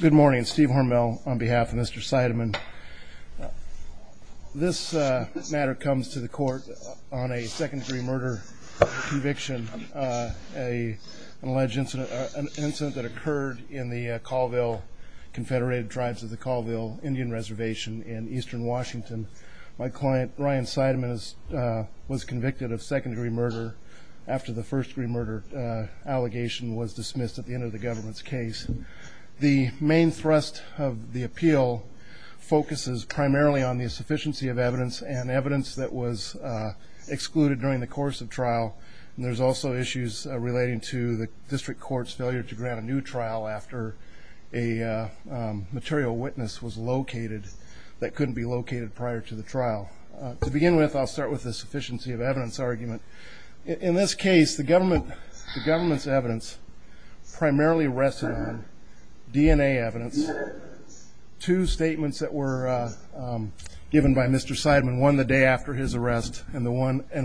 Good morning, Steve Hormel on behalf of Mr. Seideman. This matter comes to the court on a second-degree murder conviction, an alleged incident that occurred in the Colville, Confederated Tribes of the Colville Indian Reservation in eastern Washington. My client, Ryan Seideman, was convicted of second-degree murder after the first-degree murder allegation was found. The main thrust of the appeal focuses primarily on the sufficiency of evidence and evidence that was excluded during the course of trial. There's also issues relating to the district court's failure to grant a new trial after a material witness was located that couldn't be located prior to the trial. To begin with, I'll start with the sufficiency of evidence argument. In this DNA evidence, two statements that were given by Mr. Seideman, one the day after his arrest and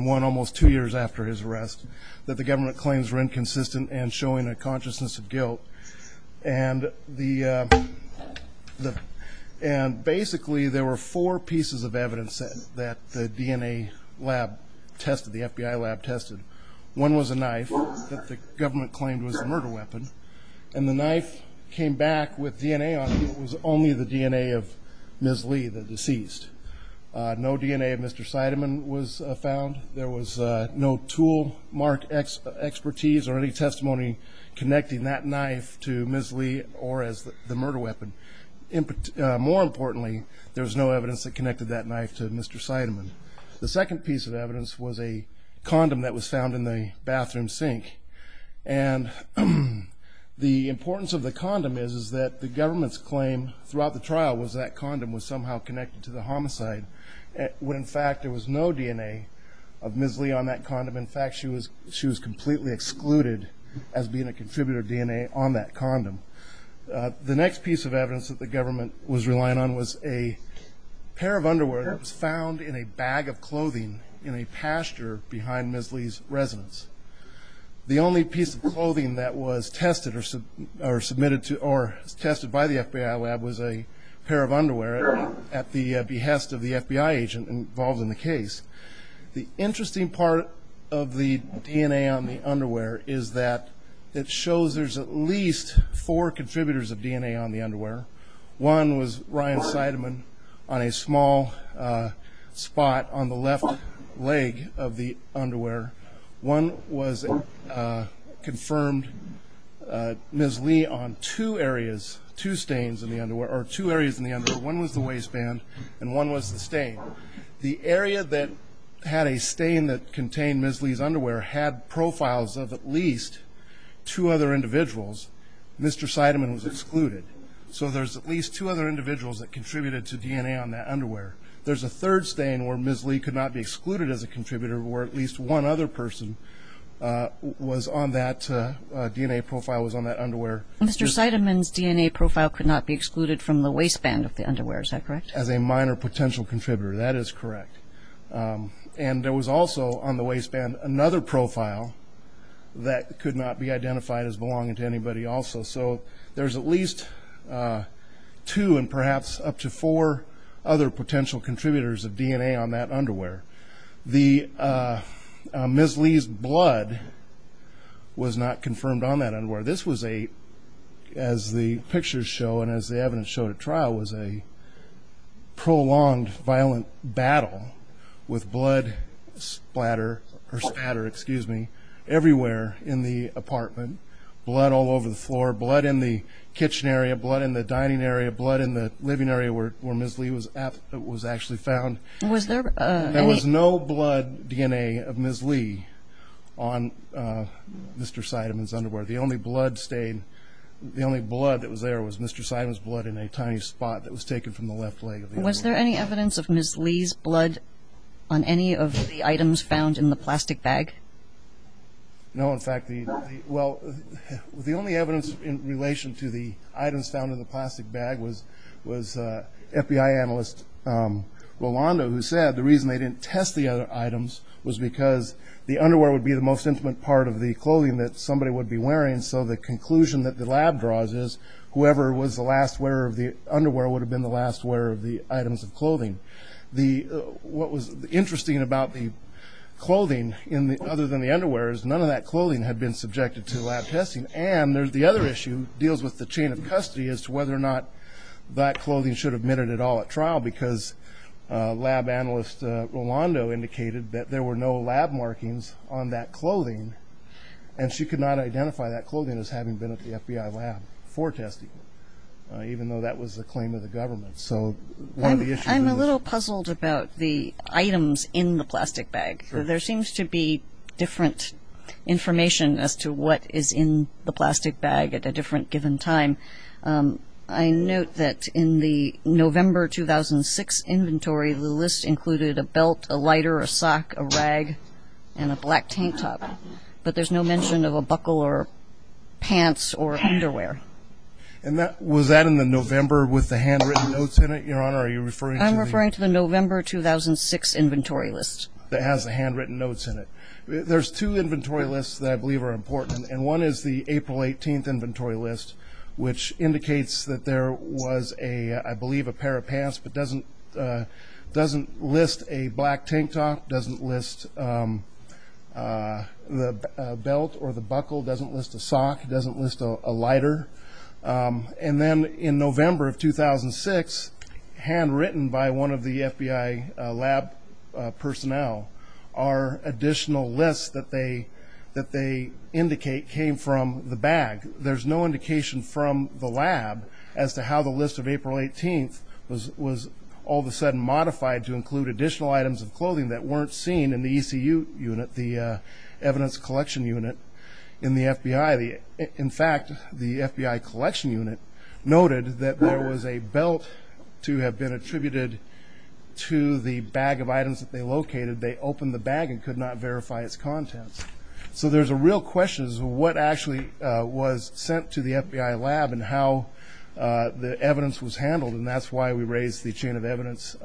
one almost two years after his arrest, that the government claims were inconsistent and showing a consciousness of guilt. Basically, there were four pieces of evidence that the DNA lab tested, the FBI lab tested. One was a knife that the government claimed was a murder weapon, and the knife came back with DNA on it. It was only the DNA of Ms. Lee, the deceased. No DNA of Mr. Seideman was found. There was no tool mark expertise or any testimony connecting that knife to Ms. Lee or as the murder weapon. More importantly, there was no evidence that connected that knife to Mr. Seideman. The second piece of evidence was a condom that was found in the bathroom sink. The importance of the condom is that the government's claim throughout the trial was that condom was somehow connected to the homicide, when in fact there was no DNA of Ms. Lee on that condom. In fact, she was completely excluded as being a contributor DNA on that condom. The next piece of evidence that the government was relying on was a pair of underwear that was found in a bag of clothing in a pasture behind Ms. Lee's residence. The only piece of clothing that was tested or submitted to or tested by the FBI lab was a pair of underwear at the behest of the FBI agent involved in the case. The interesting part of the DNA on the underwear is that it shows there's at least four contributors of DNA on the underwear. One was Ryan Seideman on a small spot on the left leg of the underwear. One was confirmed Ms. Lee on two areas, two stains in the underwear or two areas in the underwear. One was the waistband and one was the stain. The area that had a stain that contained Ms. Lee's underwear had profiles of at least two other individuals. Mr. Seideman was excluded. So there's at least two other individuals that contributed to DNA on that underwear. There's a third stain where Ms. Lee could not be excluded as a contributor or at least one other person was on that DNA profile was on that underwear. Mr. Seideman's DNA profile could not be excluded from the waistband of the underwear, is that correct? As a minor potential contributor, that is correct. And there was also on the waistband another profile that could not be identified as belonging to anybody also. So there's at least two and other potential contributors of DNA on that underwear. Ms. Lee's blood was not confirmed on that underwear. This was a, as the pictures show and as the evidence showed at trial, was a prolonged violent battle with blood splatter or spatter, excuse me, everywhere in the apartment. Blood all over the floor, blood in the kitchen area, blood in the dining area, blood in the living area where Ms. Lee was actually found. There was no blood DNA of Ms. Lee on Mr. Seideman's underwear. The only blood stain, the only blood that was there was Mr. Seideman's blood in a tiny spot that was taken from the left leg. Was there any evidence of Ms. Lee's blood on any of the items found in the plastic bag? No, in fact, well the only evidence in relation to the items found in the plastic bag was FBI analyst Rolando who said the reason they didn't test the other items was because the underwear would be the most intimate part of the clothing that somebody would be wearing. So the conclusion that the lab draws is whoever was the last wearer of the underwear would have been the last wearer of the items of clothing. What was interesting about the clothing other than the underwear is none of that clothing had been subjected to lab testing. And there's the other issue deals with the chain of custody as to whether or not that clothing should have been admitted at all at trial because lab analyst Rolando indicated that there were no lab markings on that clothing and she could not identify that clothing as having been at the FBI lab for testing, even though that was the claim of the government. I'm a little puzzled about the items in the plastic bag. There seems to be different information as to what is in the plastic bag at a different given time. I note that in the November 2006 inventory, the list included a belt, a lighter, a sock, a rag, and a black tank top. But there's no mention of a buckle or pants or underwear. And that was that in the November with the handwritten notes in it, Your Honor? Are you referring to the... I'm referring to the November 2006 inventory list. That has the handwritten notes in it. There's two inventory lists that I believe are important. And one is the April 18th inventory list, which indicates that there was a, I believe a pair of pants, but doesn't doesn't list a black tank top, doesn't list the belt or the buckle, doesn't list a sock, doesn't list a lighter. And then in November of 2006, handwritten by one of the FBI lab personnel, our additional lists that they indicate came from the bag. There's no indication from the lab as to how the list of April 18th was all of a sudden modified to include additional items of clothing that weren't seen in the ECU unit, the evidence collection unit in the FBI. In fact, the FBI collection unit noted that there was a belt to have been the items that they located, they opened the bag and could not verify its contents. So there's a real question as to what actually was sent to the FBI lab and how the evidence was handled. And that's why we raised the chain of evidence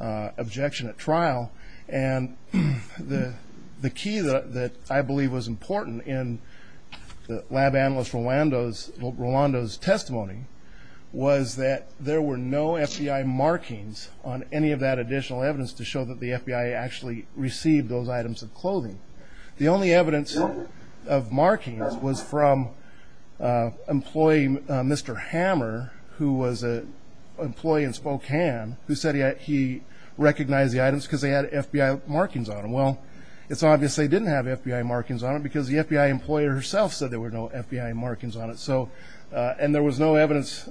objection at trial. And the the key that I believe was important in the lab analyst Rolando's testimony was that there were no FBI markings on any of that additional evidence to show that the FBI actually received those items of clothing. The only evidence of markings was from employee Mr. Hammer, who was an employee in Spokane, who said he recognized the items because they had FBI markings on them. Well, it's obvious they didn't have FBI markings on it because the FBI employer herself said there were no FBI markings on it. So and there was no evidence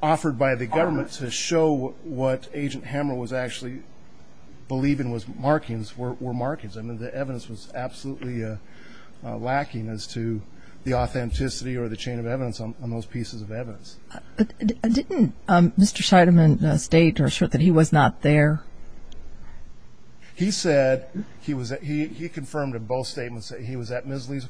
offered by the government to show what Agent Hammer was actually believing was markings, were markings. I mean the evidence was absolutely lacking as to the authenticity or the chain of evidence on those pieces of evidence. Didn't Mr. Scheidemann state or assert that he was not there? He said he was at, he confirmed in both statements that he was at Ms. He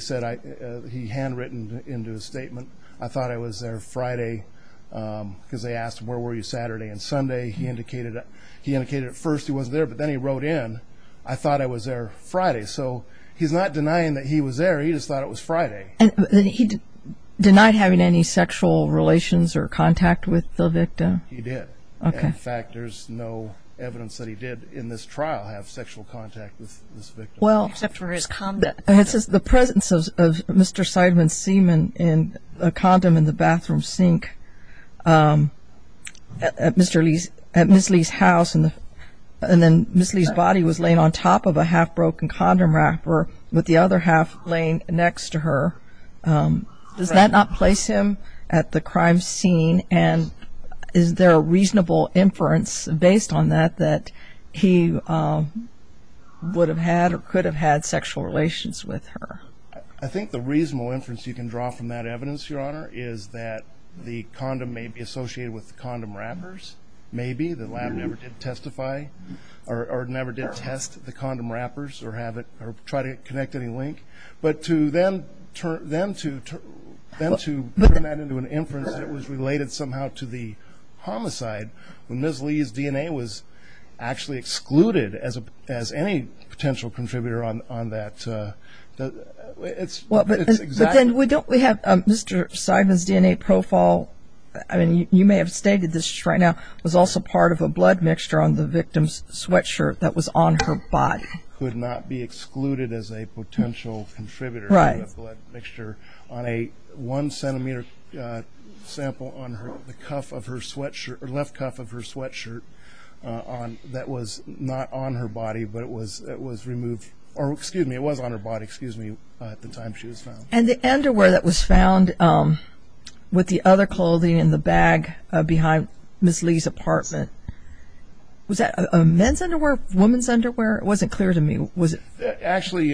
said he handwritten into a statement, I thought I was there Friday because they asked him where were you Saturday and Sunday. He indicated he indicated at first he was there but then he wrote in, I thought I was there Friday. So he's not denying that he was there, he just thought it was Friday. And he denied having any sexual relations or contact with the victim? He did. Okay. In fact, there's no evidence that he did in this trial have sexual contact with this victim. It says the presence of Mr. Scheidemann's condom in the bathroom sink at Mr. Lee's, at Ms. Lee's house and then Ms. Lee's body was laid on top of a half-broken condom wrapper with the other half laying next to her. Does that not place him at the crime scene and is there a reasonable inference based on that that he would have had or could have had sexual relations with her? I think the reasonable inference you can draw from that evidence, Your Honor, is that the condom may be associated with the condom wrappers, maybe. The lab never did testify or never did test the condom wrappers or have it or try to connect any link. But to then turn that into an inference that was actually excluded as any potential contributor on that, it's exactly. But then we don't, we have Mr. Scheidemann's DNA profile. I mean, you may have stated this right now, was also part of a blood mixture on the victim's sweatshirt that was on her body. Could not be excluded as a potential contributor. Right. Of a blood mixture on a one-centimeter sample on the cuff of her sweatshirt or left on that was not on her body, but it was removed or excuse me, it was on her body, excuse me, at the time she was found. And the underwear that was found with the other clothing in the bag behind Ms. Lee's apartment, was that a men's underwear, woman's underwear? It wasn't clear to me. Actually,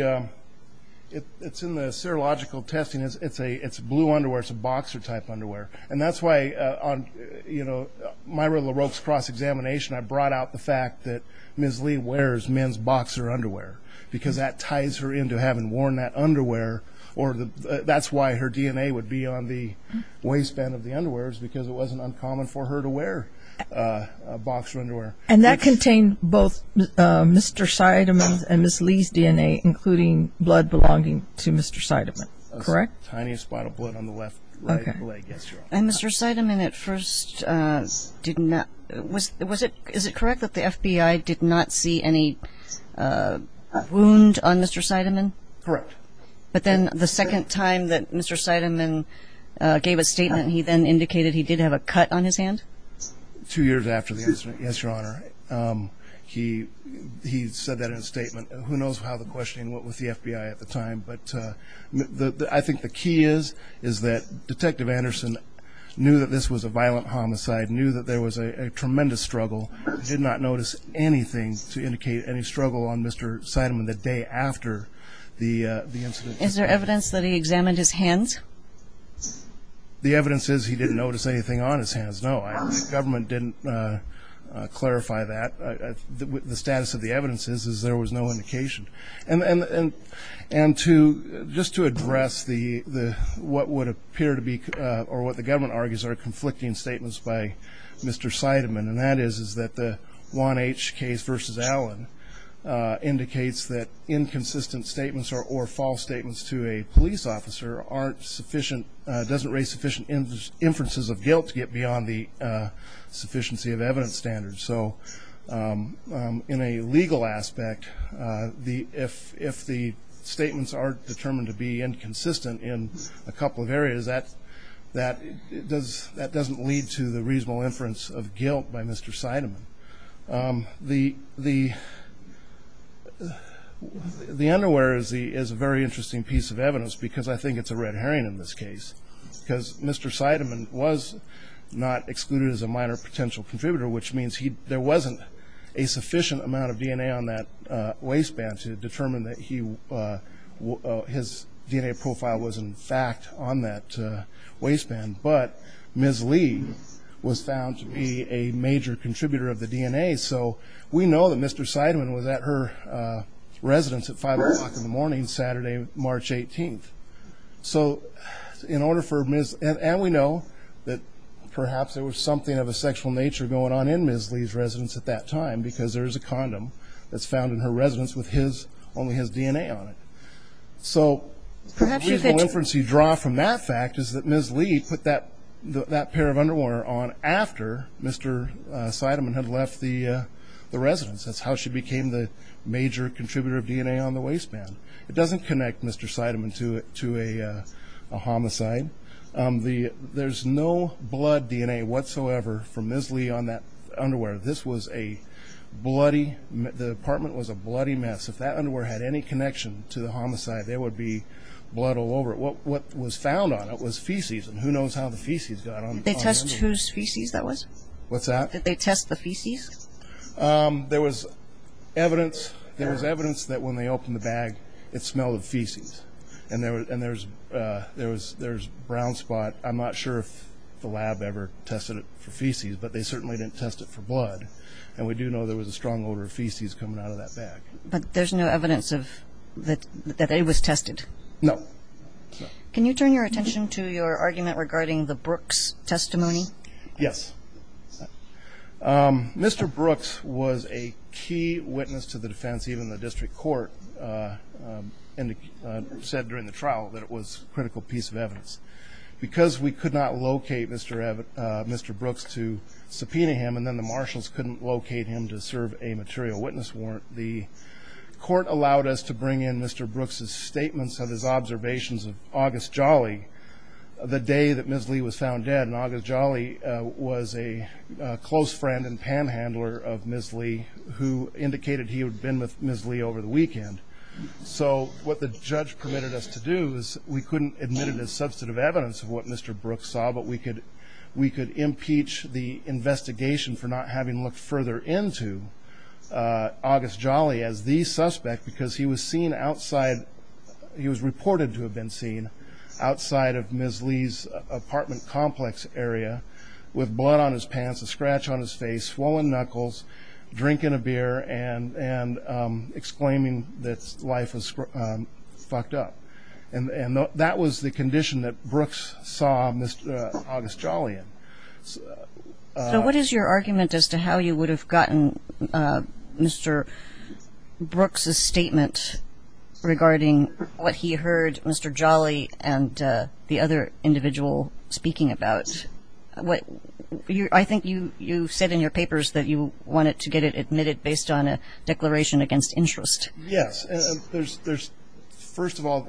it's in the serological testing. It's blue underwear. It's a boxer type underwear. And that's why on, you know, Myra LaRocque's cross-examination, I brought out the fact that Ms. Lee wears men's boxer underwear, because that ties her into having worn that underwear or the, that's why her DNA would be on the waistband of the underwears, because it wasn't uncommon for her to wear a boxer underwear. And that contained both Mr. Scheidemann's and Ms. Lee's DNA, including blood belonging to Mr. Scheidemann, correct? The tiniest spot of blood on the left, right leg, yes, Your Honor. And Mr. Scheidemann at first did not, was, was it, is it correct that the FBI did not see any wound on Mr. Scheidemann? Correct. But then the second time that Mr. Scheidemann gave a statement, he then indicated he did have a cut on his hand? Two years after the incident, yes, Your Honor. He, he said that in a statement. Who knows how the questioning went with the FBI at the time, but I think the key is, is that Detective Anderson knew that this was a violent homicide, knew that there was a tremendous struggle, did not notice anything to indicate any struggle on Mr. Scheidemann the day after the incident. Is there evidence that he examined his hands? The evidence is he didn't notice anything on his hands, no. The government didn't clarify that. The status of the evidence is, is there was no indication. And, and, and to, just to address the, the, what would appear to be, or what the government argues are conflicting statements by Mr. Scheidemann, and that is, is that the Juan H. case versus Allen indicates that inconsistent statements or, or false statements to a police officer aren't sufficient, doesn't raise sufficient inferences of guilt to get beyond the sufficiency of evidence standards. So in a legal aspect, the, if, if the statements are determined to be inconsistent in a couple of areas, that, that does, that doesn't lead to the reasonable inference of guilt by Mr. Scheidemann. The, the, the underwear is the, is a very interesting piece of evidence because I think it's a red herring in this case. Because Mr. Scheidemann was not excluded as a minor potential contributor, which means he, there wasn't a sufficient amount of DNA on that waistband to determine that he, his DNA profile was in fact on that waistband. But Ms. Lee was found to be a major contributor of the DNA. So we know that Mr. Scheidemann was at her residence at 5 o'clock in the morning Saturday, March 18th. So in order for Ms., and we know that perhaps there was something of a sexual nature going on in Ms. Lee's residence at that time because there is a condom that's found in her residence with his, only his DNA on it. So the reasonable inference you draw from that fact is that Ms. Lee put that, that pair of underwear on after Mr. Scheidemann had left the, the residence. That's how she became the major contributor of DNA on the waistband. It doesn't connect Mr. Scheidemann to a homicide. There's no blood DNA whatsoever from Ms. Lee on that underwear. This was a bloody, the apartment was a bloody mess. If that underwear had any connection to the homicide, there would be blood all over it. What was found on it was feces, and who knows how the feces got on the underwear. Did they test whose feces that was? What's that? Did they test the feces? There was evidence, there was evidence that when they opened the bag, it smelled of feces. And there was, and there was, there was, there was brown spot. I'm not sure if the lab ever tested it for feces, but they certainly didn't test it for blood. And we do know there was a strong odor of feces coming out of that bag. But there's no evidence of, that it was tested? No. Can you turn your attention to your argument regarding the Brooks testimony? Yes. Mr. Brooks was a key witness to the defense. Even the district court said during the trial that it was critical piece of evidence. Because we could not locate Mr. Brooks to subpoena him, and then the marshals couldn't locate him to serve a material witness warrant, the court allowed us to bring in Mr. Brooks' statements of his observations of August Jolly, the day that Ms. Lee was found dead. And August Jolly was a close friend and panhandler of Ms. Lee, who indicated he had been with Ms. Lee over the weekend. So what the judge permitted us to do is we couldn't admit it as substantive evidence of what Mr. Brooks saw, but we could impeach the investigation for not having looked further into August Jolly as the suspect, because he was seen outside, he was reported to have been seen outside of Ms. Lee's apartment complex area, with blood on his pants, a scratch on his face, swollen knuckles, drinking a beer, and exclaiming that life was fucked up. And that was the condition that Brooks saw August Jolly in. So what is your argument as to how you would have gotten Mr. Brooks' statement regarding what he heard Mr. Jolly and the other individual speaking about? I think you said in your papers that you wanted to get it admitted based on a declaration against interest. Yes. First of all,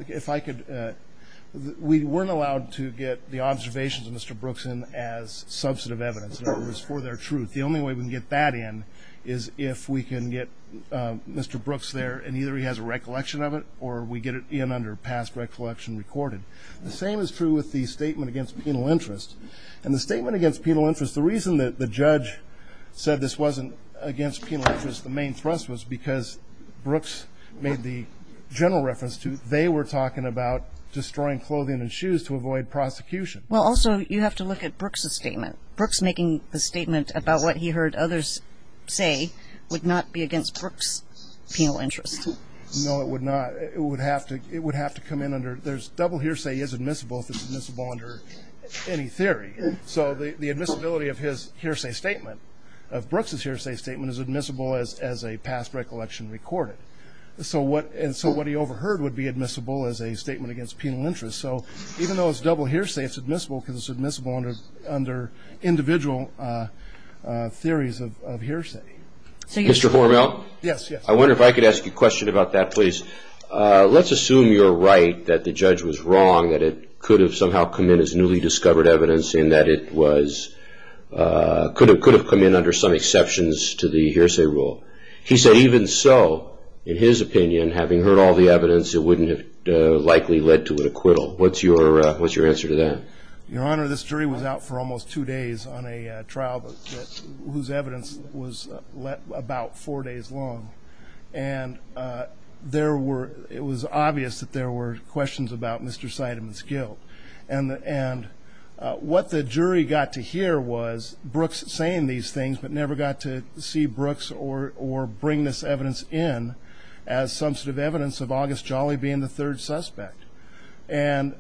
we weren't allowed to get the observations of Mr. Brooks in as substantive evidence. It was for their truth. The only way we can get that in is if we can get Mr. Brooks there, and either he has a recollection of it or we get it in under past recollection recorded. The same is true with the statement against penal interest. And the statement against penal interest, the reason that the judge said this wasn't against penal interest, the main thrust was because Brooks made the general reference to they were talking about destroying clothing and shoes to avoid prosecution. Well, also, you have to look at Brooks' statement. Brooks making the statement about what he heard others say would not be against Brooks' penal interest. No, it would not. It would have to come in under, there's double hearsay is admissible if it's admissible under any theory. So the admissibility of his hearsay statement, of Brooks' hearsay statement, is admissible as a past recollection recorded. So what he overheard would be admissible as a statement against penal interest. So even though it's double hearsay, it's admissible because it's admissible under individual theories of hearsay. Mr. Hormel? Yes, yes. I wonder if I could ask you a question about that, please. Let's assume you're right that the judge was wrong, that it could have somehow come in as newly discovered evidence, and that it could have come in under some exceptions to the hearsay rule. He said even so, in his opinion, having heard all the evidence, it wouldn't have likely led to an acquittal. What's your answer to that? Your Honor, this jury was out for almost two days on a trial whose evidence was about four days long. And there were ñ it was obvious that there were questions about Mr. Seidemann's guilt. And what the jury got to hear was Brooks saying these things, but never got to see Brooks or bring this evidence in as substantive evidence of August Jolly being the third suspect. And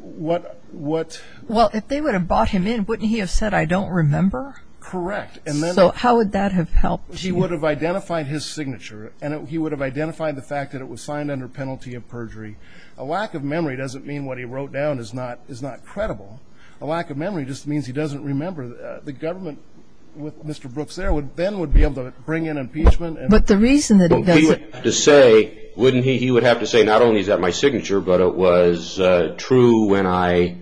what ñ Well, if they would have brought him in, wouldn't he have said, I don't remember? Correct. So how would that have helped? He would have identified his signature, and he would have identified the fact that it was signed under penalty of perjury. A lack of memory doesn't mean what he wrote down is not credible. A lack of memory just means he doesn't remember. The government, with Mr. Brooks there, then would be able to bring in impeachment. But the reason that he doesn't ñ But he would have to say, wouldn't he? He would have to say, not only is that my signature, but it was true when I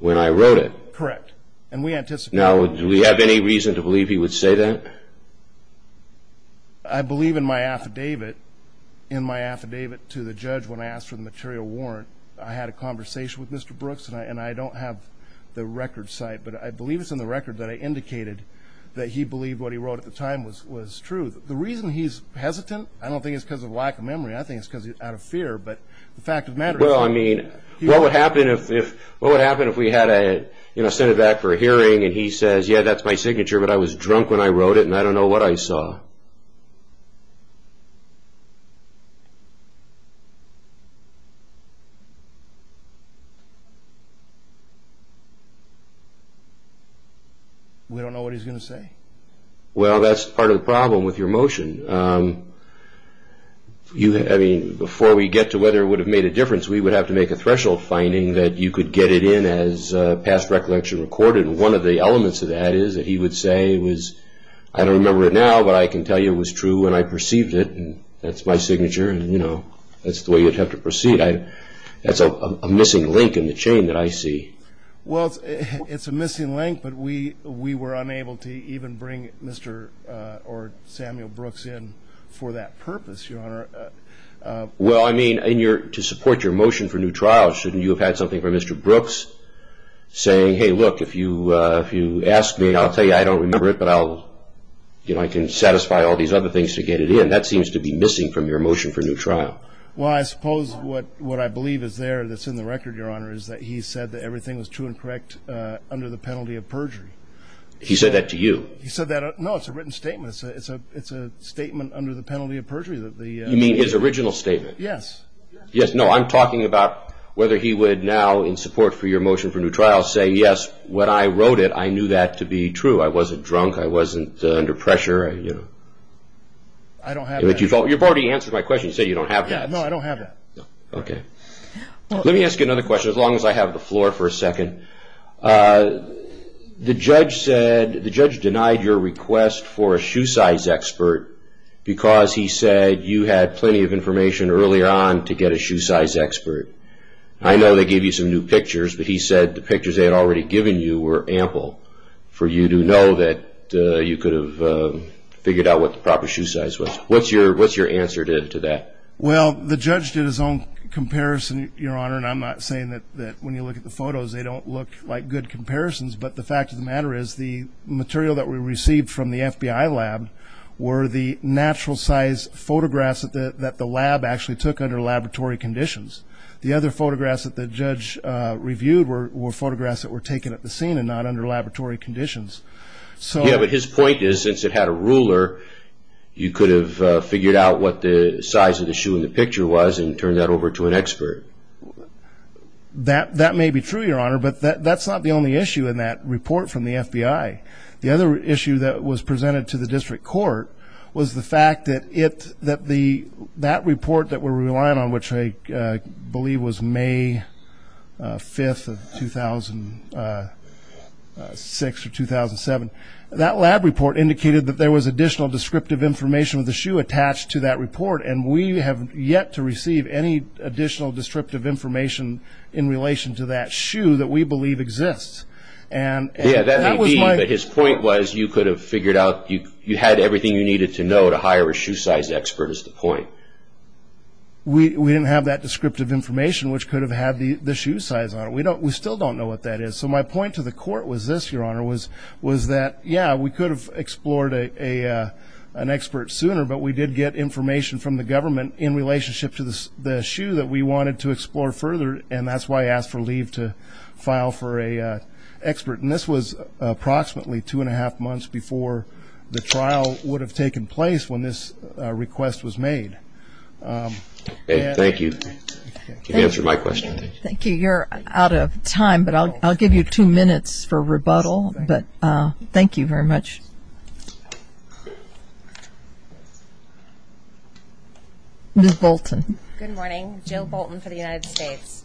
wrote it. Correct. And we anticipate that. Now, do we have any reason to believe he would say that? I believe in my affidavit, in my affidavit to the judge when I asked for the material warrant, I had a conversation with Mr. Brooks, and I don't have the record site, but I believe it's in the record that I indicated that he believed what he wrote at the time was true. The reason he's hesitant, I don't think it's because of lack of memory. I think it's because he's out of fear. But the fact of the matter is ñ Well, I mean, what would happen if we had to send it back for a hearing, and he says, yeah, that's my signature, but I was drunk when I wrote it, and I don't know what I saw? We don't know what he's going to say. Well, that's part of the problem with your motion. I mean, before we get to whether it would have made a difference, we would have to make a threshold finding that you could get it in as past recollection recorded. One of the elements of that is that he would say it was, I don't remember it now, but I can tell you it was true when I perceived it, and that's my signature, and, you know, that's the way you'd have to proceed. That's a missing link in the chain that I see. Well, it's a missing link, but we were unable to even bring Mr. or Samuel Brooks in for that purpose, Your Honor. Well, I mean, to support your motion for new trials, shouldn't you have had something from Mr. Brooks saying, hey, look, if you ask me, I'll tell you I don't remember it, but I can satisfy all these other things to get it in. That seems to be missing from your motion for new trial. Well, I suppose what I believe is there that's in the record, Your Honor, is that he said that everything was true and correct under the penalty of perjury. He said that to you? He said that. No, it's a written statement. It's a statement under the penalty of perjury. You mean his original statement? Yes. Yes. No, I'm talking about whether he would now, in support for your motion for new trials, say, yes, when I wrote it, I knew that to be true, I wasn't drunk, I wasn't under pressure, you know. I don't have that. You've already answered my question. You said you don't have that. No, I don't have that. Okay. Let me ask you another question, as long as I have the floor for a second. The judge said the judge denied your request for a shoe size expert because he said you had plenty of information earlier on to get a shoe size expert. I know they gave you some new pictures, but he said the pictures they had already given you were ample for you to know that you could have figured out what the proper shoe size was. What's your answer to that? Well, the judge did his own comparison, Your Honor, and I'm not saying that when you look at the photos they don't look like good comparisons, but the fact of the matter is the material that we received from the FBI lab were the natural size photographs that the lab actually took under laboratory conditions. The other photographs that the judge reviewed were photographs that were taken at the scene and not under laboratory conditions. Yeah, but his point is since it had a ruler, you could have figured out what the size of the shoe in the picture was and turned that over to an expert. That may be true, Your Honor, but that's not the only issue in that report from the FBI. The other issue that was presented to the district court was the fact that that report that we're relying on, which I believe was May 5th of 2006 or 2007, that lab report indicated that there was additional descriptive information of the shoe attached to that report, and we have yet to receive any additional descriptive information in relation to that shoe that we believe exists. Yeah, that may be, but his point was you could have figured out, you had everything you needed to know to hire a shoe size expert is the point. We didn't have that descriptive information, which could have had the shoe size on it. We still don't know what that is. So my point to the court was this, Your Honor, was that, yeah, we could have explored an expert sooner, but we did get information from the government in relationship to the shoe that we wanted to explore further, and that's why I asked for leave to file for an expert. And this was approximately two and a half months before the trial would have taken place when this request was made. Thank you. You answered my question. Thank you. You're out of time, but I'll give you two minutes for rebuttal, but thank you very much. Ms. Bolton. Good morning. Jill Bolton for the United States.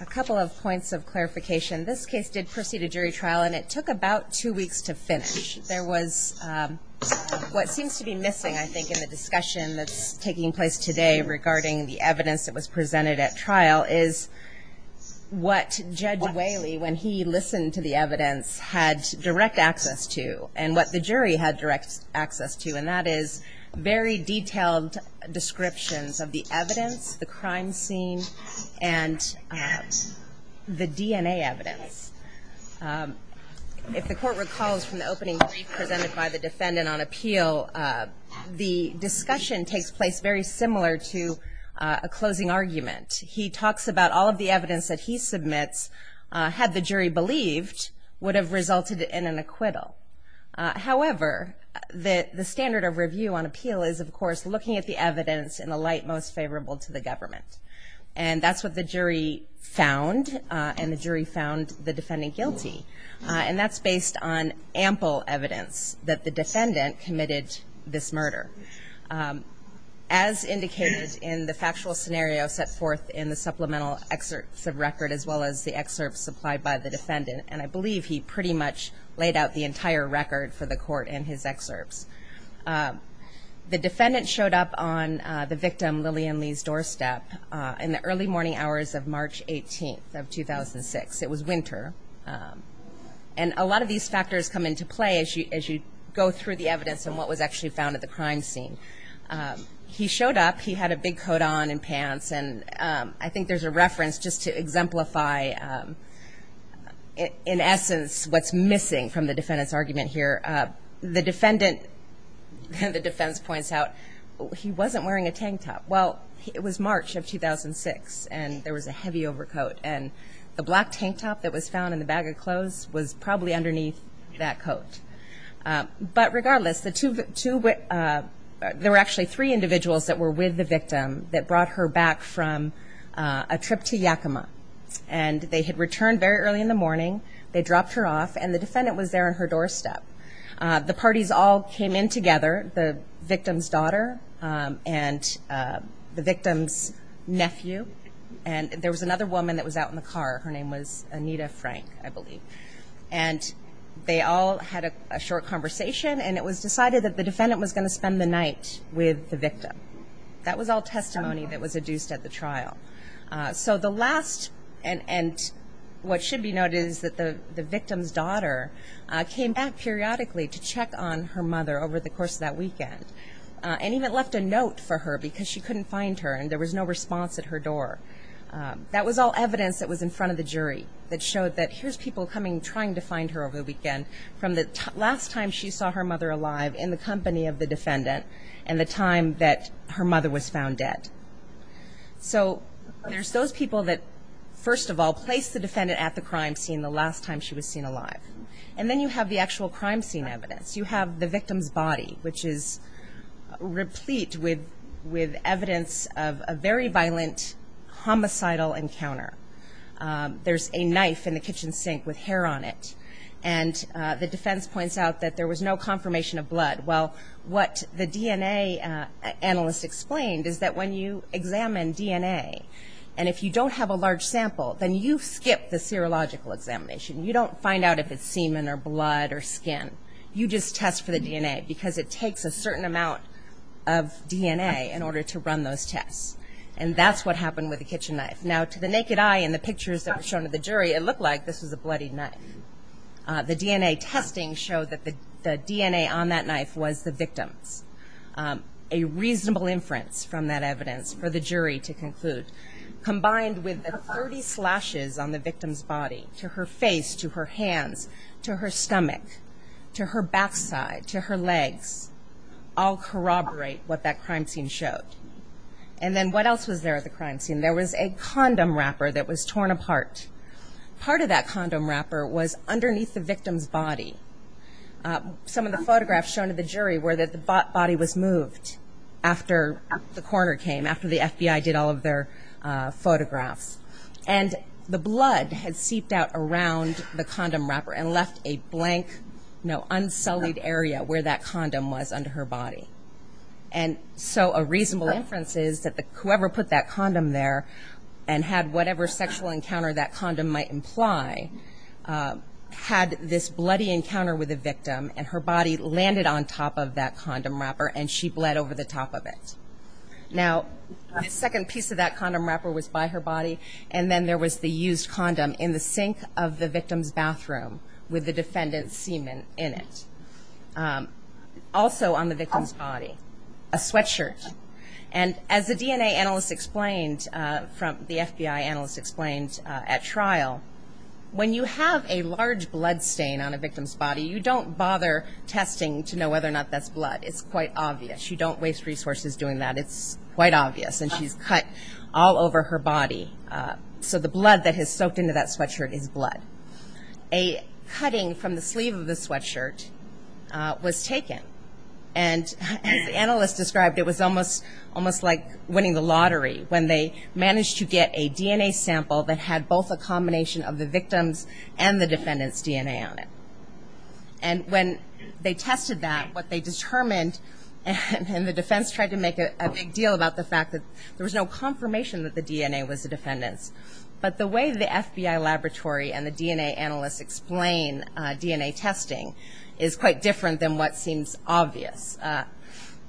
A couple of points of clarification. This case did proceed to jury trial, and it took about two weeks to finish. There was what seems to be missing, I think, in the discussion that's taking place today regarding the evidence that was presented at trial is what Judge Whaley, when he listened to the evidence, had direct access to and what the jury had direct access to, and that is very detailed descriptions of the evidence, the crime scene, and the DNA evidence. If the court recalls from the opening brief presented by the defendant on appeal, the discussion takes place very similar to a closing argument. He talks about all of the evidence that he submits, had the jury believed, would have resulted in an acquittal. However, the standard of review on appeal is, of course, looking at the evidence in the light most favorable to the government, and that's what the jury found, and the jury found the defendant guilty, and that's based on ample evidence that the defendant committed this murder. As indicated in the factual scenario set forth in the supplemental excerpts of record, as well as the excerpts supplied by the defendant, and I believe he pretty much laid out the entire record for the court in his excerpts, the defendant showed up on the victim, Lillian Lee's, doorstep in the early morning hours of March 18th of 2006. It was winter, and a lot of these factors come into play as you go through the evidence and what was actually found at the crime scene. He showed up. He had a big coat on and pants, and I think there's a reference just to exemplify, in essence, what's missing from the defendant's argument here. The defendant, the defense points out, he wasn't wearing a tank top. Well, it was March of 2006, and there was a heavy overcoat, and the black tank top that was found in the bag of clothes was probably underneath that coat. But regardless, there were actually three individuals that were with the victim that brought her back from a trip to Yakima, and they had returned very early in the morning. They dropped her off, and the defendant was there on her doorstep. The parties all came in together, the victim's daughter and the victim's nephew, and there was another woman that was out in the car. Her name was Anita Frank, I believe. And they all had a short conversation, and it was decided that the defendant was going to spend the night with the victim. That was all testimony that was adduced at the trial. So the last, and what should be noted, is that the victim's daughter came back periodically to check on her mother over the course of that weekend and even left a note for her because she couldn't find her, and there was no response at her door. That was all evidence that was in front of the jury that showed that here's people coming, trying to find her over the weekend from the last time she saw her mother alive in the company of the defendant and the time that her mother was found dead. So there's those people that, first of all, placed the defendant at the crime scene the last time she was seen alive. And then you have the actual crime scene evidence. You have the victim's body, which is replete with evidence of a very violent, homicidal encounter. There's a knife in the kitchen sink with hair on it, and the defense points out that there was no confirmation of blood. Well, what the DNA analyst explained is that when you examine DNA, and if you don't have a large sample, then you skip the serological examination. You don't find out if it's semen or blood or skin. You just test for the DNA, because it takes a certain amount of DNA in order to run those tests. And that's what happened with the kitchen knife. Now, to the naked eye and the pictures that were shown to the jury, it looked like this was a bloodied knife. The DNA testing showed that the DNA on that knife was the victim's. A reasonable inference from that evidence for the jury to conclude, combined with the 30 slashes on the victim's body to her face, to her hands, to her stomach, to her backside, to her legs, all corroborate what that crime scene showed. And then what else was there at the crime scene? There was a condom wrapper that was torn apart. Part of that condom wrapper was underneath the victim's body. Some of the photographs shown to the jury were that the body was moved after the coroner came, after the FBI did all of their photographs. And the blood had seeped out around the condom wrapper and left a blank, unsullied area where that condom was under her body. And so a reasonable inference is that whoever put that condom there and had whatever sexual encounter that condom might imply, had this bloody encounter with the victim and her body landed on top of that condom wrapper and she bled over the top of it. Now, a second piece of that condom wrapper was by her body and then there was the used condom in the sink of the victim's bathroom with the defendant's semen in it. Also on the victim's body, a sweatshirt. And as the DNA analyst explained, the FBI analyst explained at trial, when you have a large blood stain on a victim's body, you don't bother testing to know whether or not that's blood. It's quite obvious. You don't waste resources doing that. It's quite obvious. And she's cut all over her body. So the blood that has soaked into that sweatshirt is blood. A cutting from the sleeve of the sweatshirt was taken. And as the analyst described, it was almost like winning the lottery when they managed to get a DNA sample that had both a combination of the victim's and the defendant's DNA on it. And when they tested that, what they determined, and the defense tried to make a big deal about the fact that there was no confirmation that the DNA was the defendant's. But the way the FBI laboratory and the DNA analysts explain DNA testing is quite different than what seems obvious.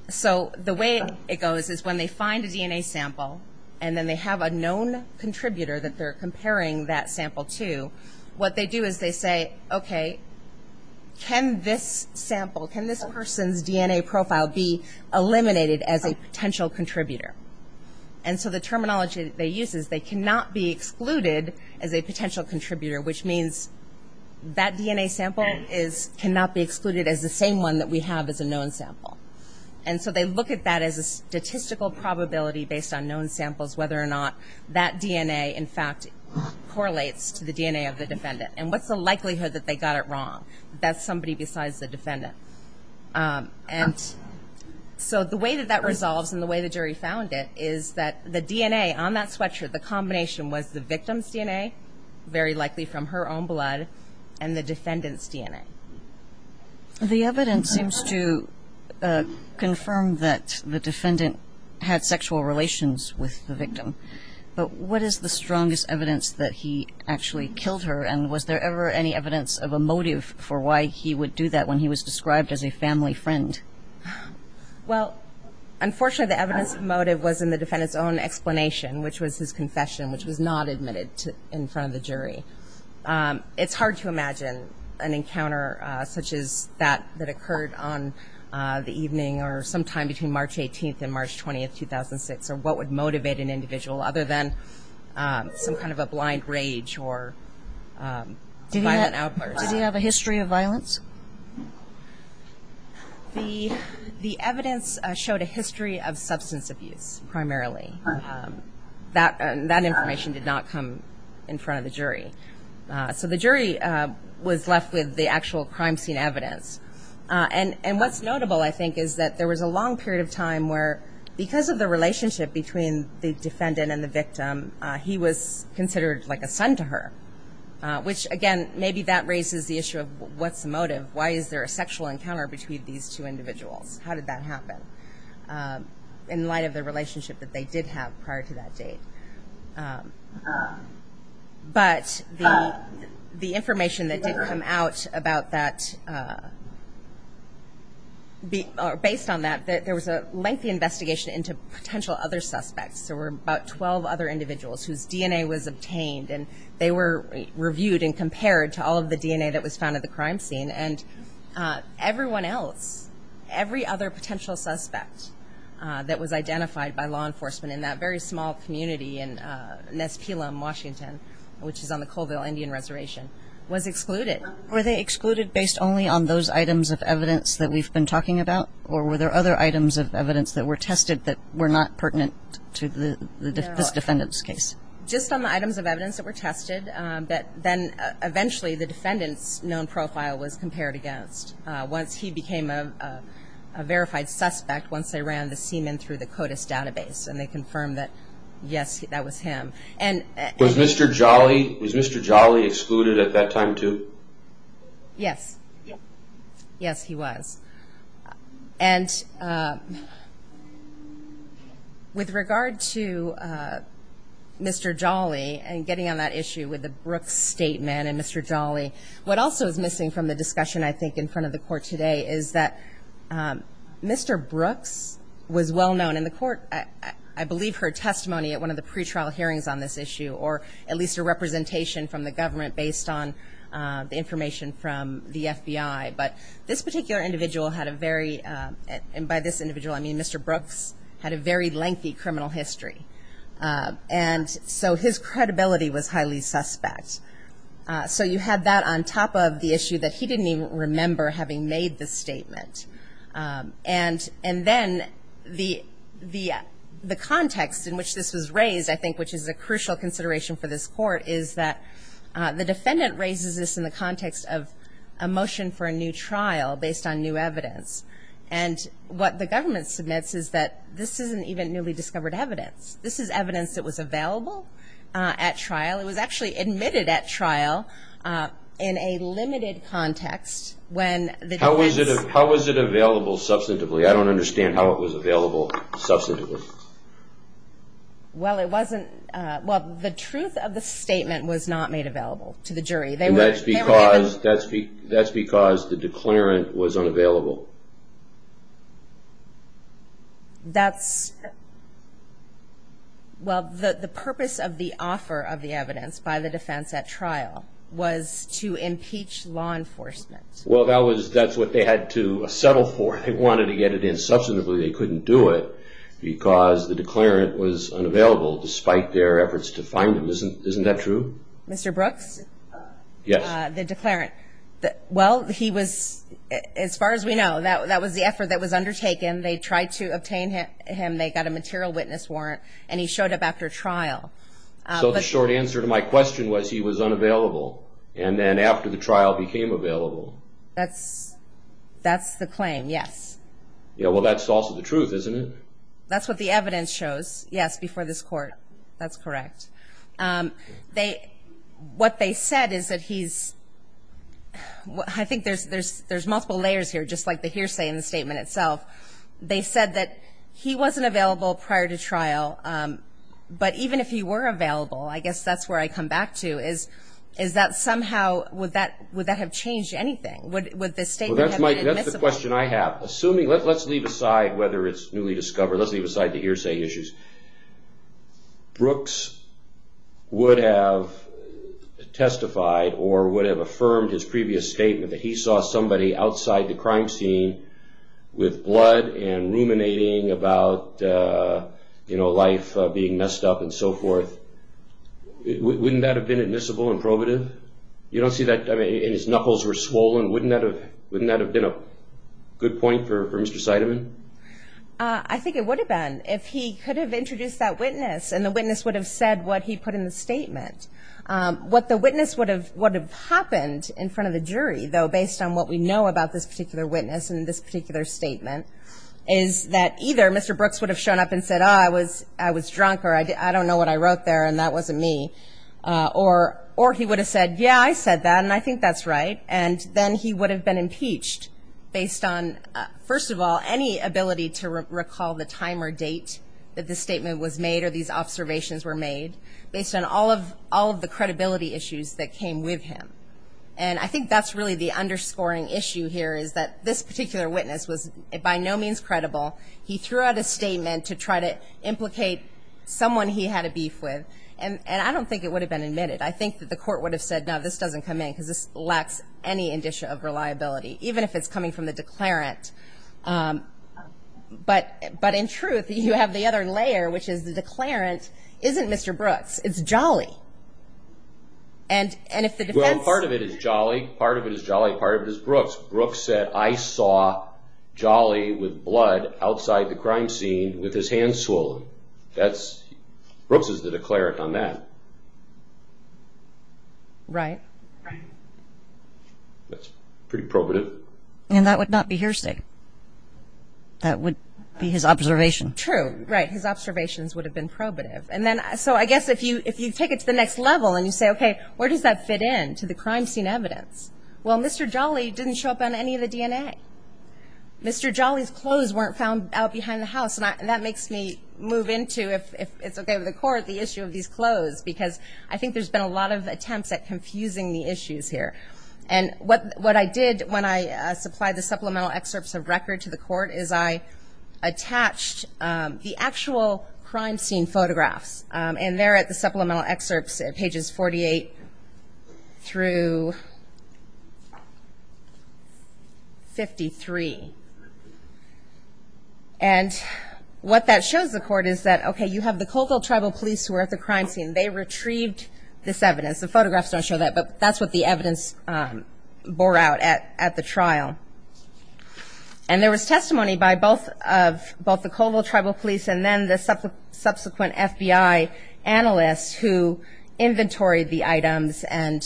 So the way it goes is when they find a DNA sample and then they have a known contributor that they're comparing that sample to, what they do is they say, okay, can this sample, can this person's DNA profile be eliminated as a potential contributor? And so the terminology they use is they cannot be excluded as a potential contributor, which means that DNA sample cannot be excluded as the same one that we have as a known sample. And so they look at that as a statistical probability based on known samples, whether or not that DNA in fact correlates to the DNA of the defendant. And what's the likelihood that they got it wrong? That's somebody besides the defendant. And so the way that that resolves and the way the jury found it is that the DNA on that sweatshirt, the combination was the victim's DNA, very likely from her own blood, and the defendant's DNA. The evidence seems to confirm that the defendant had sexual relations with the victim. But what is the strongest evidence that he actually killed her? And was there ever any evidence of a motive for why he would do that when he was described as a family friend? Well, unfortunately, the evidence motive was in the defendant's own explanation, which was his confession, which was not admitted in front of the jury. It's hard to imagine an encounter such as that that occurred on the evening or sometime between March 18th and March 20th, 2006, or what would motivate an individual other than some kind of a blind rage or violent outburst. Did he have a history of violence? The evidence showed a history of substance abuse primarily. That information did not come in front of the jury. So the jury was left with the actual crime scene evidence. And what's notable, I think, is that there was a long period of time where, because of the relationship between the defendant and the victim, he was considered like a son to her, which, again, maybe that raises the issue of what's the motive? Why is there a sexual encounter between these two individuals? How did that happen in light of the relationship that they did have prior to that date? But the information that did come out about that, based on that, there was a lengthy investigation into potential other suspects. There were about 12 other individuals whose DNA was obtained, and they were reviewed and compared to all of the DNA that was found at the crime scene. And everyone else, every other potential suspect that was identified by law enforcement in that very small community in Nespilam, Washington, which is on the Colville Indian Reservation, was excluded. Were they excluded based only on those items of evidence that we've been talking about, or were there other items of evidence that were tested that were not pertinent to this defendant's case? Eventually, the defendant's known profile was compared against. Once he became a verified suspect, once they ran the semen through the CODIS database, and they confirmed that, yes, that was him. Was Mr. Jolly excluded at that time, too? Yes. Yes, he was. And with regard to Mr. Jolly and getting on that issue with the Brooks statement and Mr. Jolly, what also is missing from the discussion, I think, in front of the Court today is that Mr. Brooks was well known. And the Court, I believe, heard testimony at one of the pretrial hearings on this issue, or at least a representation from the government based on the information from the FBI. But this particular individual had a very, and by this individual I mean Mr. Brooks, had a very lengthy criminal history. And so his credibility was highly suspect. So you had that on top of the issue that he didn't even remember having made the statement. And then the context in which this was raised, I think, which is a crucial consideration for this Court, is that the defendant raises this in the context of a motion for a new trial based on new evidence. And what the government submits is that this isn't even newly discovered evidence. This is evidence that was available at trial. It was actually admitted at trial in a limited context. How was it available substantively? I don't understand how it was available substantively. Well, it wasn't. Well, the truth of the statement was not made available to the jury. And that's because the declarant was unavailable. Well, the purpose of the offer of the evidence by the defense at trial was to impeach law enforcement. Well, that's what they had to settle for. They wanted to get it in substantively. They couldn't do it because the declarant was unavailable despite their efforts to find him. Isn't that true? Mr. Brooks? Yes. The declarant. Well, he was, as far as we know, that was the effort that was undertaken. They tried to obtain him. They got a material witness warrant. And he showed up after trial. So the short answer to my question was he was unavailable. And then after the trial became available. That's the claim. Yes. Well, that's also the truth, isn't it? That's what the evidence shows. Yes, before this court. That's correct. What they said is that he's, I think there's multiple layers here, just like the hearsay in the statement itself. They said that he wasn't available prior to trial. But even if he were available, I guess that's where I come back to, is that somehow, would that have changed anything? Would the statement have been admissible? That's the question I have. Assuming, let's leave aside whether it's newly discovered. Let's leave aside the hearsay issues. Brooks would have testified or would have affirmed his previous statement that he saw somebody outside the crime scene with blood and ruminating about, you know, life being messed up and so forth. Wouldn't that have been admissible and probative? You don't see that, I mean, and his knuckles were swollen. Wouldn't that have been a good point for Mr. Seidemann? I think it would have been if he could have introduced that witness and the witness would have said what he put in the statement. What the witness would have happened in front of the jury, though based on what we know about this particular witness and this particular statement, is that either Mr. Brooks would have shown up and said, oh, I was drunk or I don't know what I wrote there and that wasn't me. Or he would have said, yeah, I said that and I think that's right. And then he would have been impeached based on, first of all, any ability to recall the time or date that the statement was made or these observations were made, based on all of the credibility issues that came with him. And I think that's really the underscoring issue here is that this particular witness was by no means credible. He threw out a statement to try to implicate someone he had a beef with, and I don't think it would have been admitted. I think that the court would have said, no, this doesn't come in because this lacks any indicia of reliability, even if it's coming from the declarant. But in truth, you have the other layer, which is the declarant isn't Mr. Brooks. It's Jolly. And if the defense— Well, part of it is Jolly. Part of it is Jolly. Part of it is Brooks. Brooks said, I saw Jolly with blood outside the crime scene with his hands swollen. Brooks is the declarant on that. Right. That's pretty probative. And that would not be hearsay. That would be his observation. True, right, his observations would have been probative. So I guess if you take it to the next level and you say, okay, where does that fit in to the crime scene evidence? Well, Mr. Jolly didn't show up on any of the DNA. Mr. Jolly's clothes weren't found out behind the house. And that makes me move into, if it's okay with the court, the issue of these clothes, because I think there's been a lot of attempts at confusing the issues here. And what I did when I supplied the supplemental excerpts of record to the court is I attached the actual crime scene photographs. And they're at the supplemental excerpts at pages 48 through 53. And what that shows the court is that, okay, you have the Colville Tribal Police who are at the crime scene. They retrieved this evidence. The photographs don't show that, but that's what the evidence bore out at the trial. And there was testimony by both the Colville Tribal Police and then the subsequent FBI analysts who inventoried the items and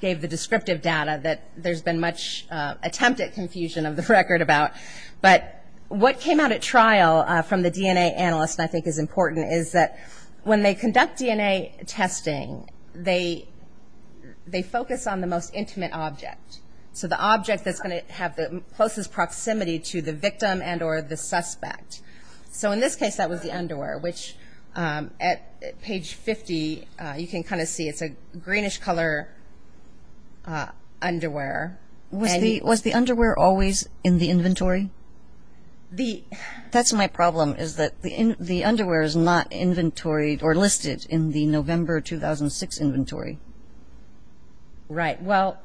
gave the descriptive data that there's been much attempted confusion of the record about. But what came out at trial from the DNA analysts, and I think is important, is that when they conduct DNA testing, they focus on the most intimate object. So the object that's going to have the closest proximity to the victim and or the suspect. So in this case, that was the underwear, which at page 50, you can kind of see it's a greenish color underwear. Was the underwear always in the inventory? That's my problem, is that the underwear is not inventoried or listed in the November 2006 inventory. Right. Well,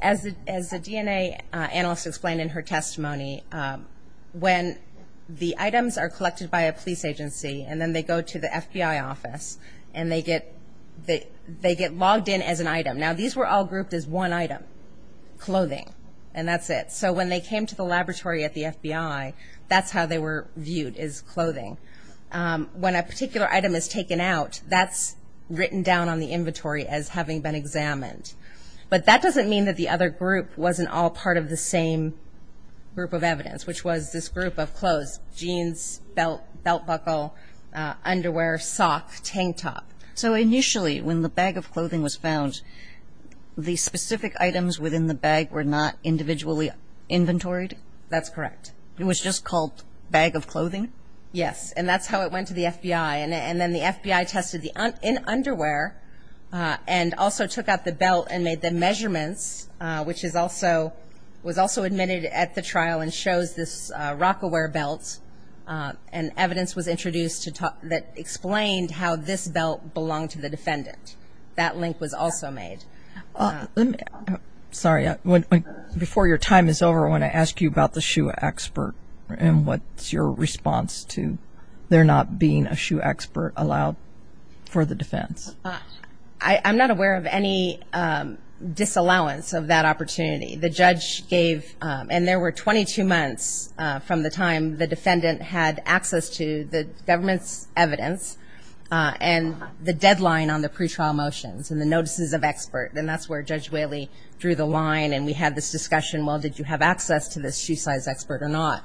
as the DNA analyst explained in her testimony, when the items are collected by a police agency and then they go to the FBI office and they get logged in as an item. Now, these were all grouped as one item, clothing, and that's it. So when they came to the laboratory at the FBI, that's how they were viewed, is clothing. When a particular item is taken out, that's written down on the inventory as having been examined. But that doesn't mean that the other group wasn't all part of the same group of evidence, which was this group of clothes, jeans, belt, belt buckle, underwear, sock, tank top. So initially, when the bag of clothing was found, the specific items within the bag were not individually inventoried? That's correct. It was just called bag of clothing? Yes, and that's how it went to the FBI. And then the FBI tested the underwear and also took out the belt and made the measurements, which was also admitted at the trial and shows this Rock-A-Wear belt. And evidence was introduced that explained how this belt belonged to the defendant. That link was also made. Sorry, before your time is over, I want to ask you about the shoe expert and what's your response to there not being a shoe expert allowed for the defense? I'm not aware of any disallowance of that opportunity. The judge gave, and there were 22 months from the time the defendant had access to the government's evidence and the deadline on the pretrial motions and the notices of expert, and that's where Judge Whaley drew the line and we had this discussion, well, did you have access to this shoe size expert or not?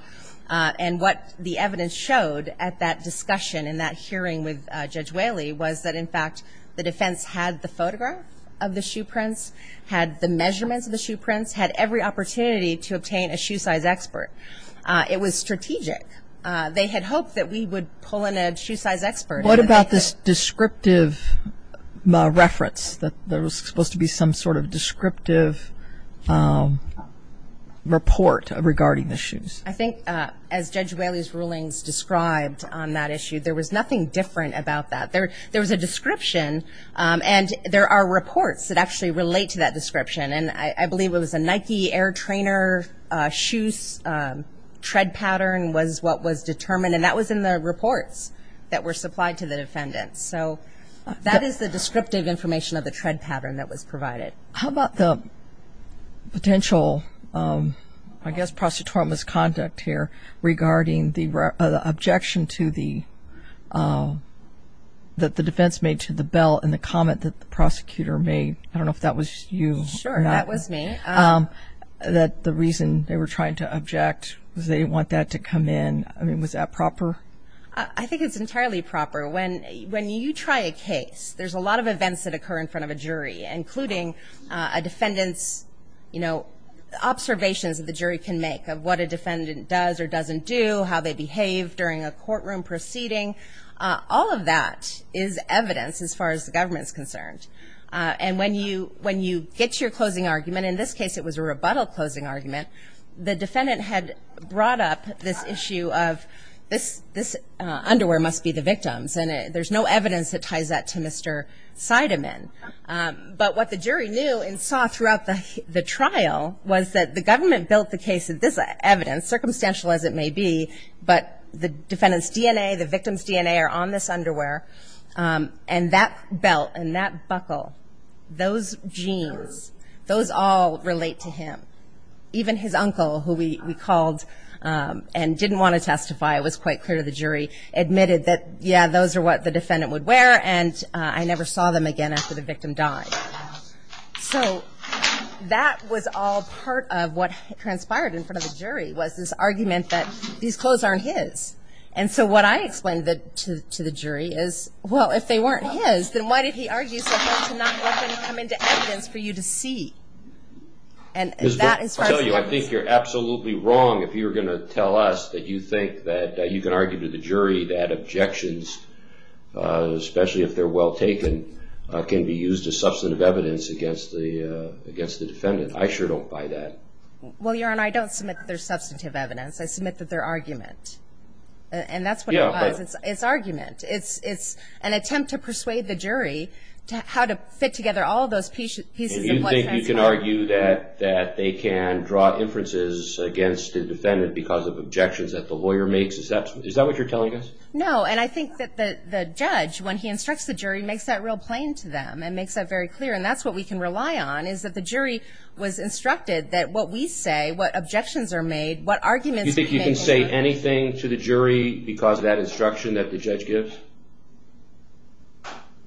And what the evidence showed at that discussion and that hearing with Judge Whaley was that, in fact, the defense had the photograph of the shoe prints, had the measurements of the shoe prints, had every opportunity to obtain a shoe size expert. It was strategic. They had hoped that we would pull in a shoe size expert. What about this descriptive reference that there was supposed to be some sort of descriptive report regarding the shoes? I think, as Judge Whaley's rulings described on that issue, there was nothing different about that. There was a description, and there are reports that actually relate to that description, and I believe it was a Nike air trainer shoe's tread pattern was what was determined, and that was in the reports that were supplied to the defendants. So that is the descriptive information of the tread pattern that was provided. How about the potential, I guess, prosecutorial misconduct here regarding the objection that the defense made to the belt and the comment that the prosecutor made? I don't know if that was you or not. Sure, that was me. That the reason they were trying to object was they didn't want that to come in. I mean, was that proper? I think it's entirely proper. When you try a case, there's a lot of events that occur in front of a jury, including a defendant's observations that the jury can make of what a defendant does or doesn't do, how they behave during a courtroom proceeding. All of that is evidence as far as the government is concerned. And when you get your closing argument, in this case it was a rebuttal closing argument, the defendant had brought up this issue of this underwear must be the victim's, and there's no evidence that ties that to Mr. Seidemann. But what the jury knew and saw throughout the trial was that the government built the case of this evidence, circumstantial as it may be, but the defendant's DNA, the victim's DNA are on this underwear, and that belt and that buckle, those genes, those all relate to him. Even his uncle, who we called and didn't want to testify, it was quite clear to the jury, admitted that, yeah, those are what the defendant would wear, and I never saw them again after the victim died. So that was all part of what transpired in front of the jury was this argument that these clothes aren't his. And so what I explained to the jury is, well, if they weren't his, then why did he argue so hard to not let them come into evidence for you to see? I tell you, I think you're absolutely wrong if you were going to tell us that you think that you can argue to the jury that objections, especially if they're well taken, can be used as substantive evidence against the defendant. I sure don't buy that. Well, Your Honor, I don't submit that there's substantive evidence. I submit that they're argument, and that's what it was. It's argument. It's an attempt to persuade the jury how to fit together all of those pieces of what transpired. And you think you can argue that they can draw inferences against the defendant because of objections that the lawyer makes? Is that what you're telling us? No, and I think that the judge, when he instructs the jury, makes that real plain to them and makes that very clear, and that's what we can rely on, is that the jury was instructed that what we say, what objections are made, what arguments are made. Do you think you can say anything to the jury because of that instruction that the judge gives?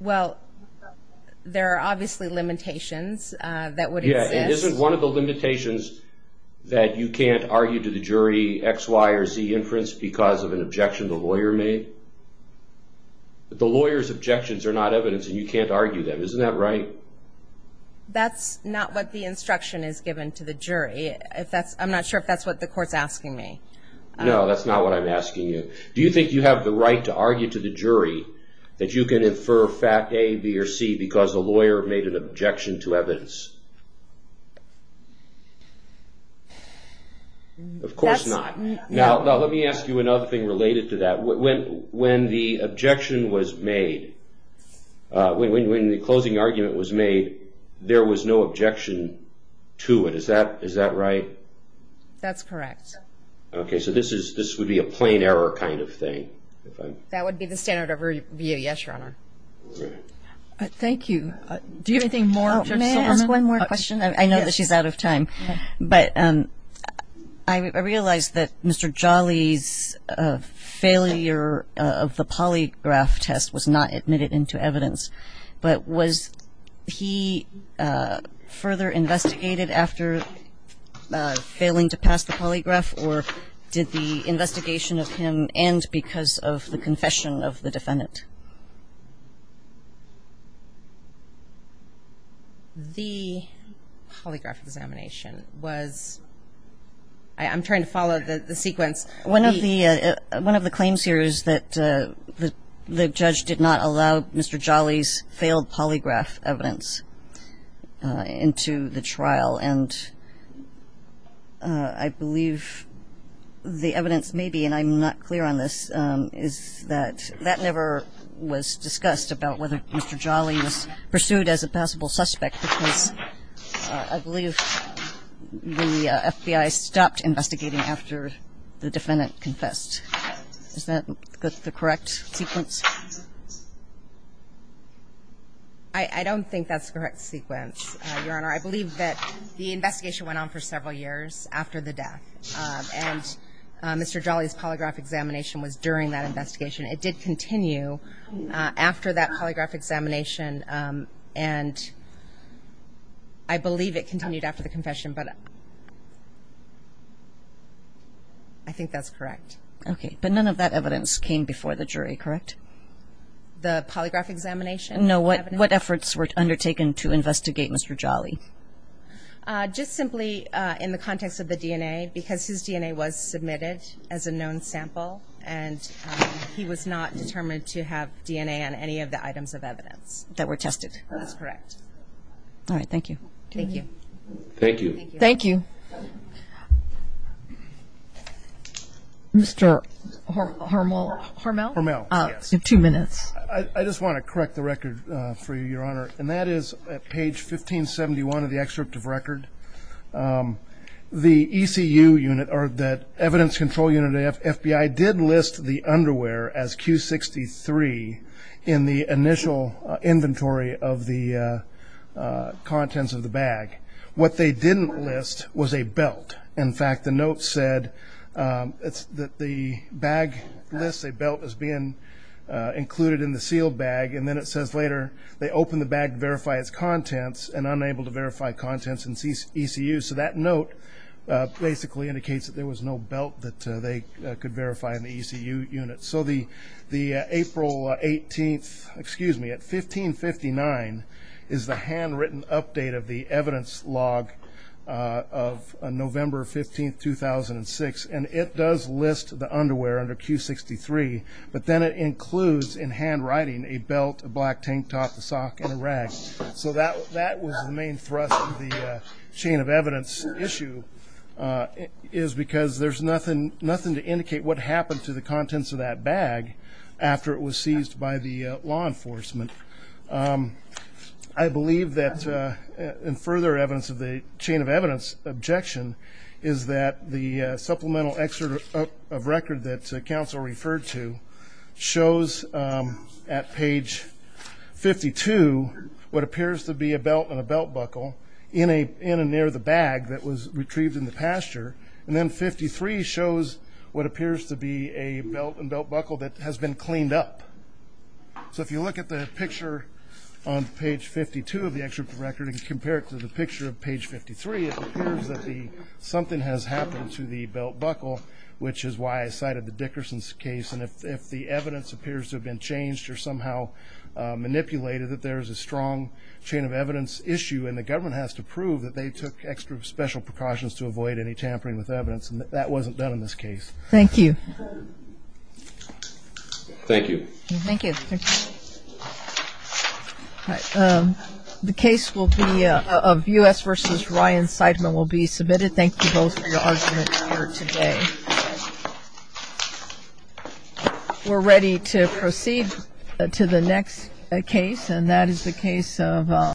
Well, there are obviously limitations that would exist. Yeah, and isn't one of the limitations that you can't argue to the jury X, Y, or Z inference because of an objection the lawyer made? The lawyer's objections are not evidence, and you can't argue them. Isn't that right? That's not what the instruction is given to the jury. I'm not sure if that's what the court's asking me. No, that's not what I'm asking you. Do you think you have the right to argue to the jury that you can infer fact A, B, or C because the lawyer made an objection to evidence? Of course not. Now, let me ask you another thing related to that. When the objection was made, when the closing argument was made, there was no objection to it. Is that right? That's correct. Okay, so this would be a plain error kind of thing. That would be the standard of a yes, Your Honor. Thank you. Do you have anything more? May I ask one more question? I know that she's out of time. But I realize that Mr. Jolly's failure of the polygraph test was not admitted into evidence, but was he further investigated after failing to pass the polygraph, or did the investigation of him end because of the confession of the defendant? The polygraph examination was ‑‑ I'm trying to follow the sequence. One of the claims here is that the judge did not allow Mr. Jolly's failed polygraph evidence into the trial. And I believe the evidence may be, and I'm not clear on this, is that that never was discussed about whether Mr. Jolly was pursued as a possible suspect because I believe the FBI stopped investigating after the defendant confessed. Is that the correct sequence? I don't think that's the correct sequence, Your Honor. I believe that the investigation went on for several years after the death, and Mr. Jolly's polygraph examination was during that investigation. It did continue after that polygraph examination, and I believe it continued after the confession, but I think that's correct. Okay, but none of that evidence came before the jury, correct? The polygraph examination? No, what efforts were undertaken to investigate Mr. Jolly? Just simply in the context of the DNA, because his DNA was submitted as a known sample, and he was not determined to have DNA on any of the items of evidence that were tested. That is correct. All right, thank you. Thank you. Thank you. Thank you. Mr. Hormel? Hormel, yes. You have two minutes. I just want to correct the record for you, Your Honor, and that is at page 1571 of the excerpt of record. The ECU unit, or the Evidence Control Unit of the FBI, did list the underwear as Q63 in the initial inventory of the contents of the bag. What they didn't list was a belt. In fact, the note said that the bag lists a belt as being included in the sealed bag, and then it says later they opened the bag to verify its contents and unable to verify contents in ECU. So that note basically indicates that there was no belt that they could verify in the ECU unit. So the April 18th, excuse me, at 1559, is the handwritten update of the evidence log of November 15th, 2006, and it does list the underwear under Q63, but then it includes in handwriting a belt, a black tank top, a sock, and a rag. So that was the main thrust of the chain of evidence issue, is because there's nothing to indicate what happened to the contents of that bag after it was seized by the law enforcement. I believe that, in further evidence of the chain of evidence objection, is that the supplemental excerpt of record that counsel referred to shows at page 52 what appears to be a belt and a belt buckle in and near the bag that was retrieved in the pasture, and then 53 shows what appears to be a belt and belt buckle that has been cleaned up. So if you look at the picture on page 52 of the excerpt of record and compare it to the picture of page 53, it appears that something has happened to the belt buckle, which is why I cited the Dickerson's case. And if the evidence appears to have been changed or somehow manipulated, that there is a strong chain of evidence issue, and the government has to prove that they took extra special precautions to avoid any tampering with evidence, that wasn't done in this case. Thank you. Thank you. Thank you. The case of U.S. v. Ryan Seidman will be submitted. Thank you both for your arguments here today. We're ready to proceed to the next case, and that is the case of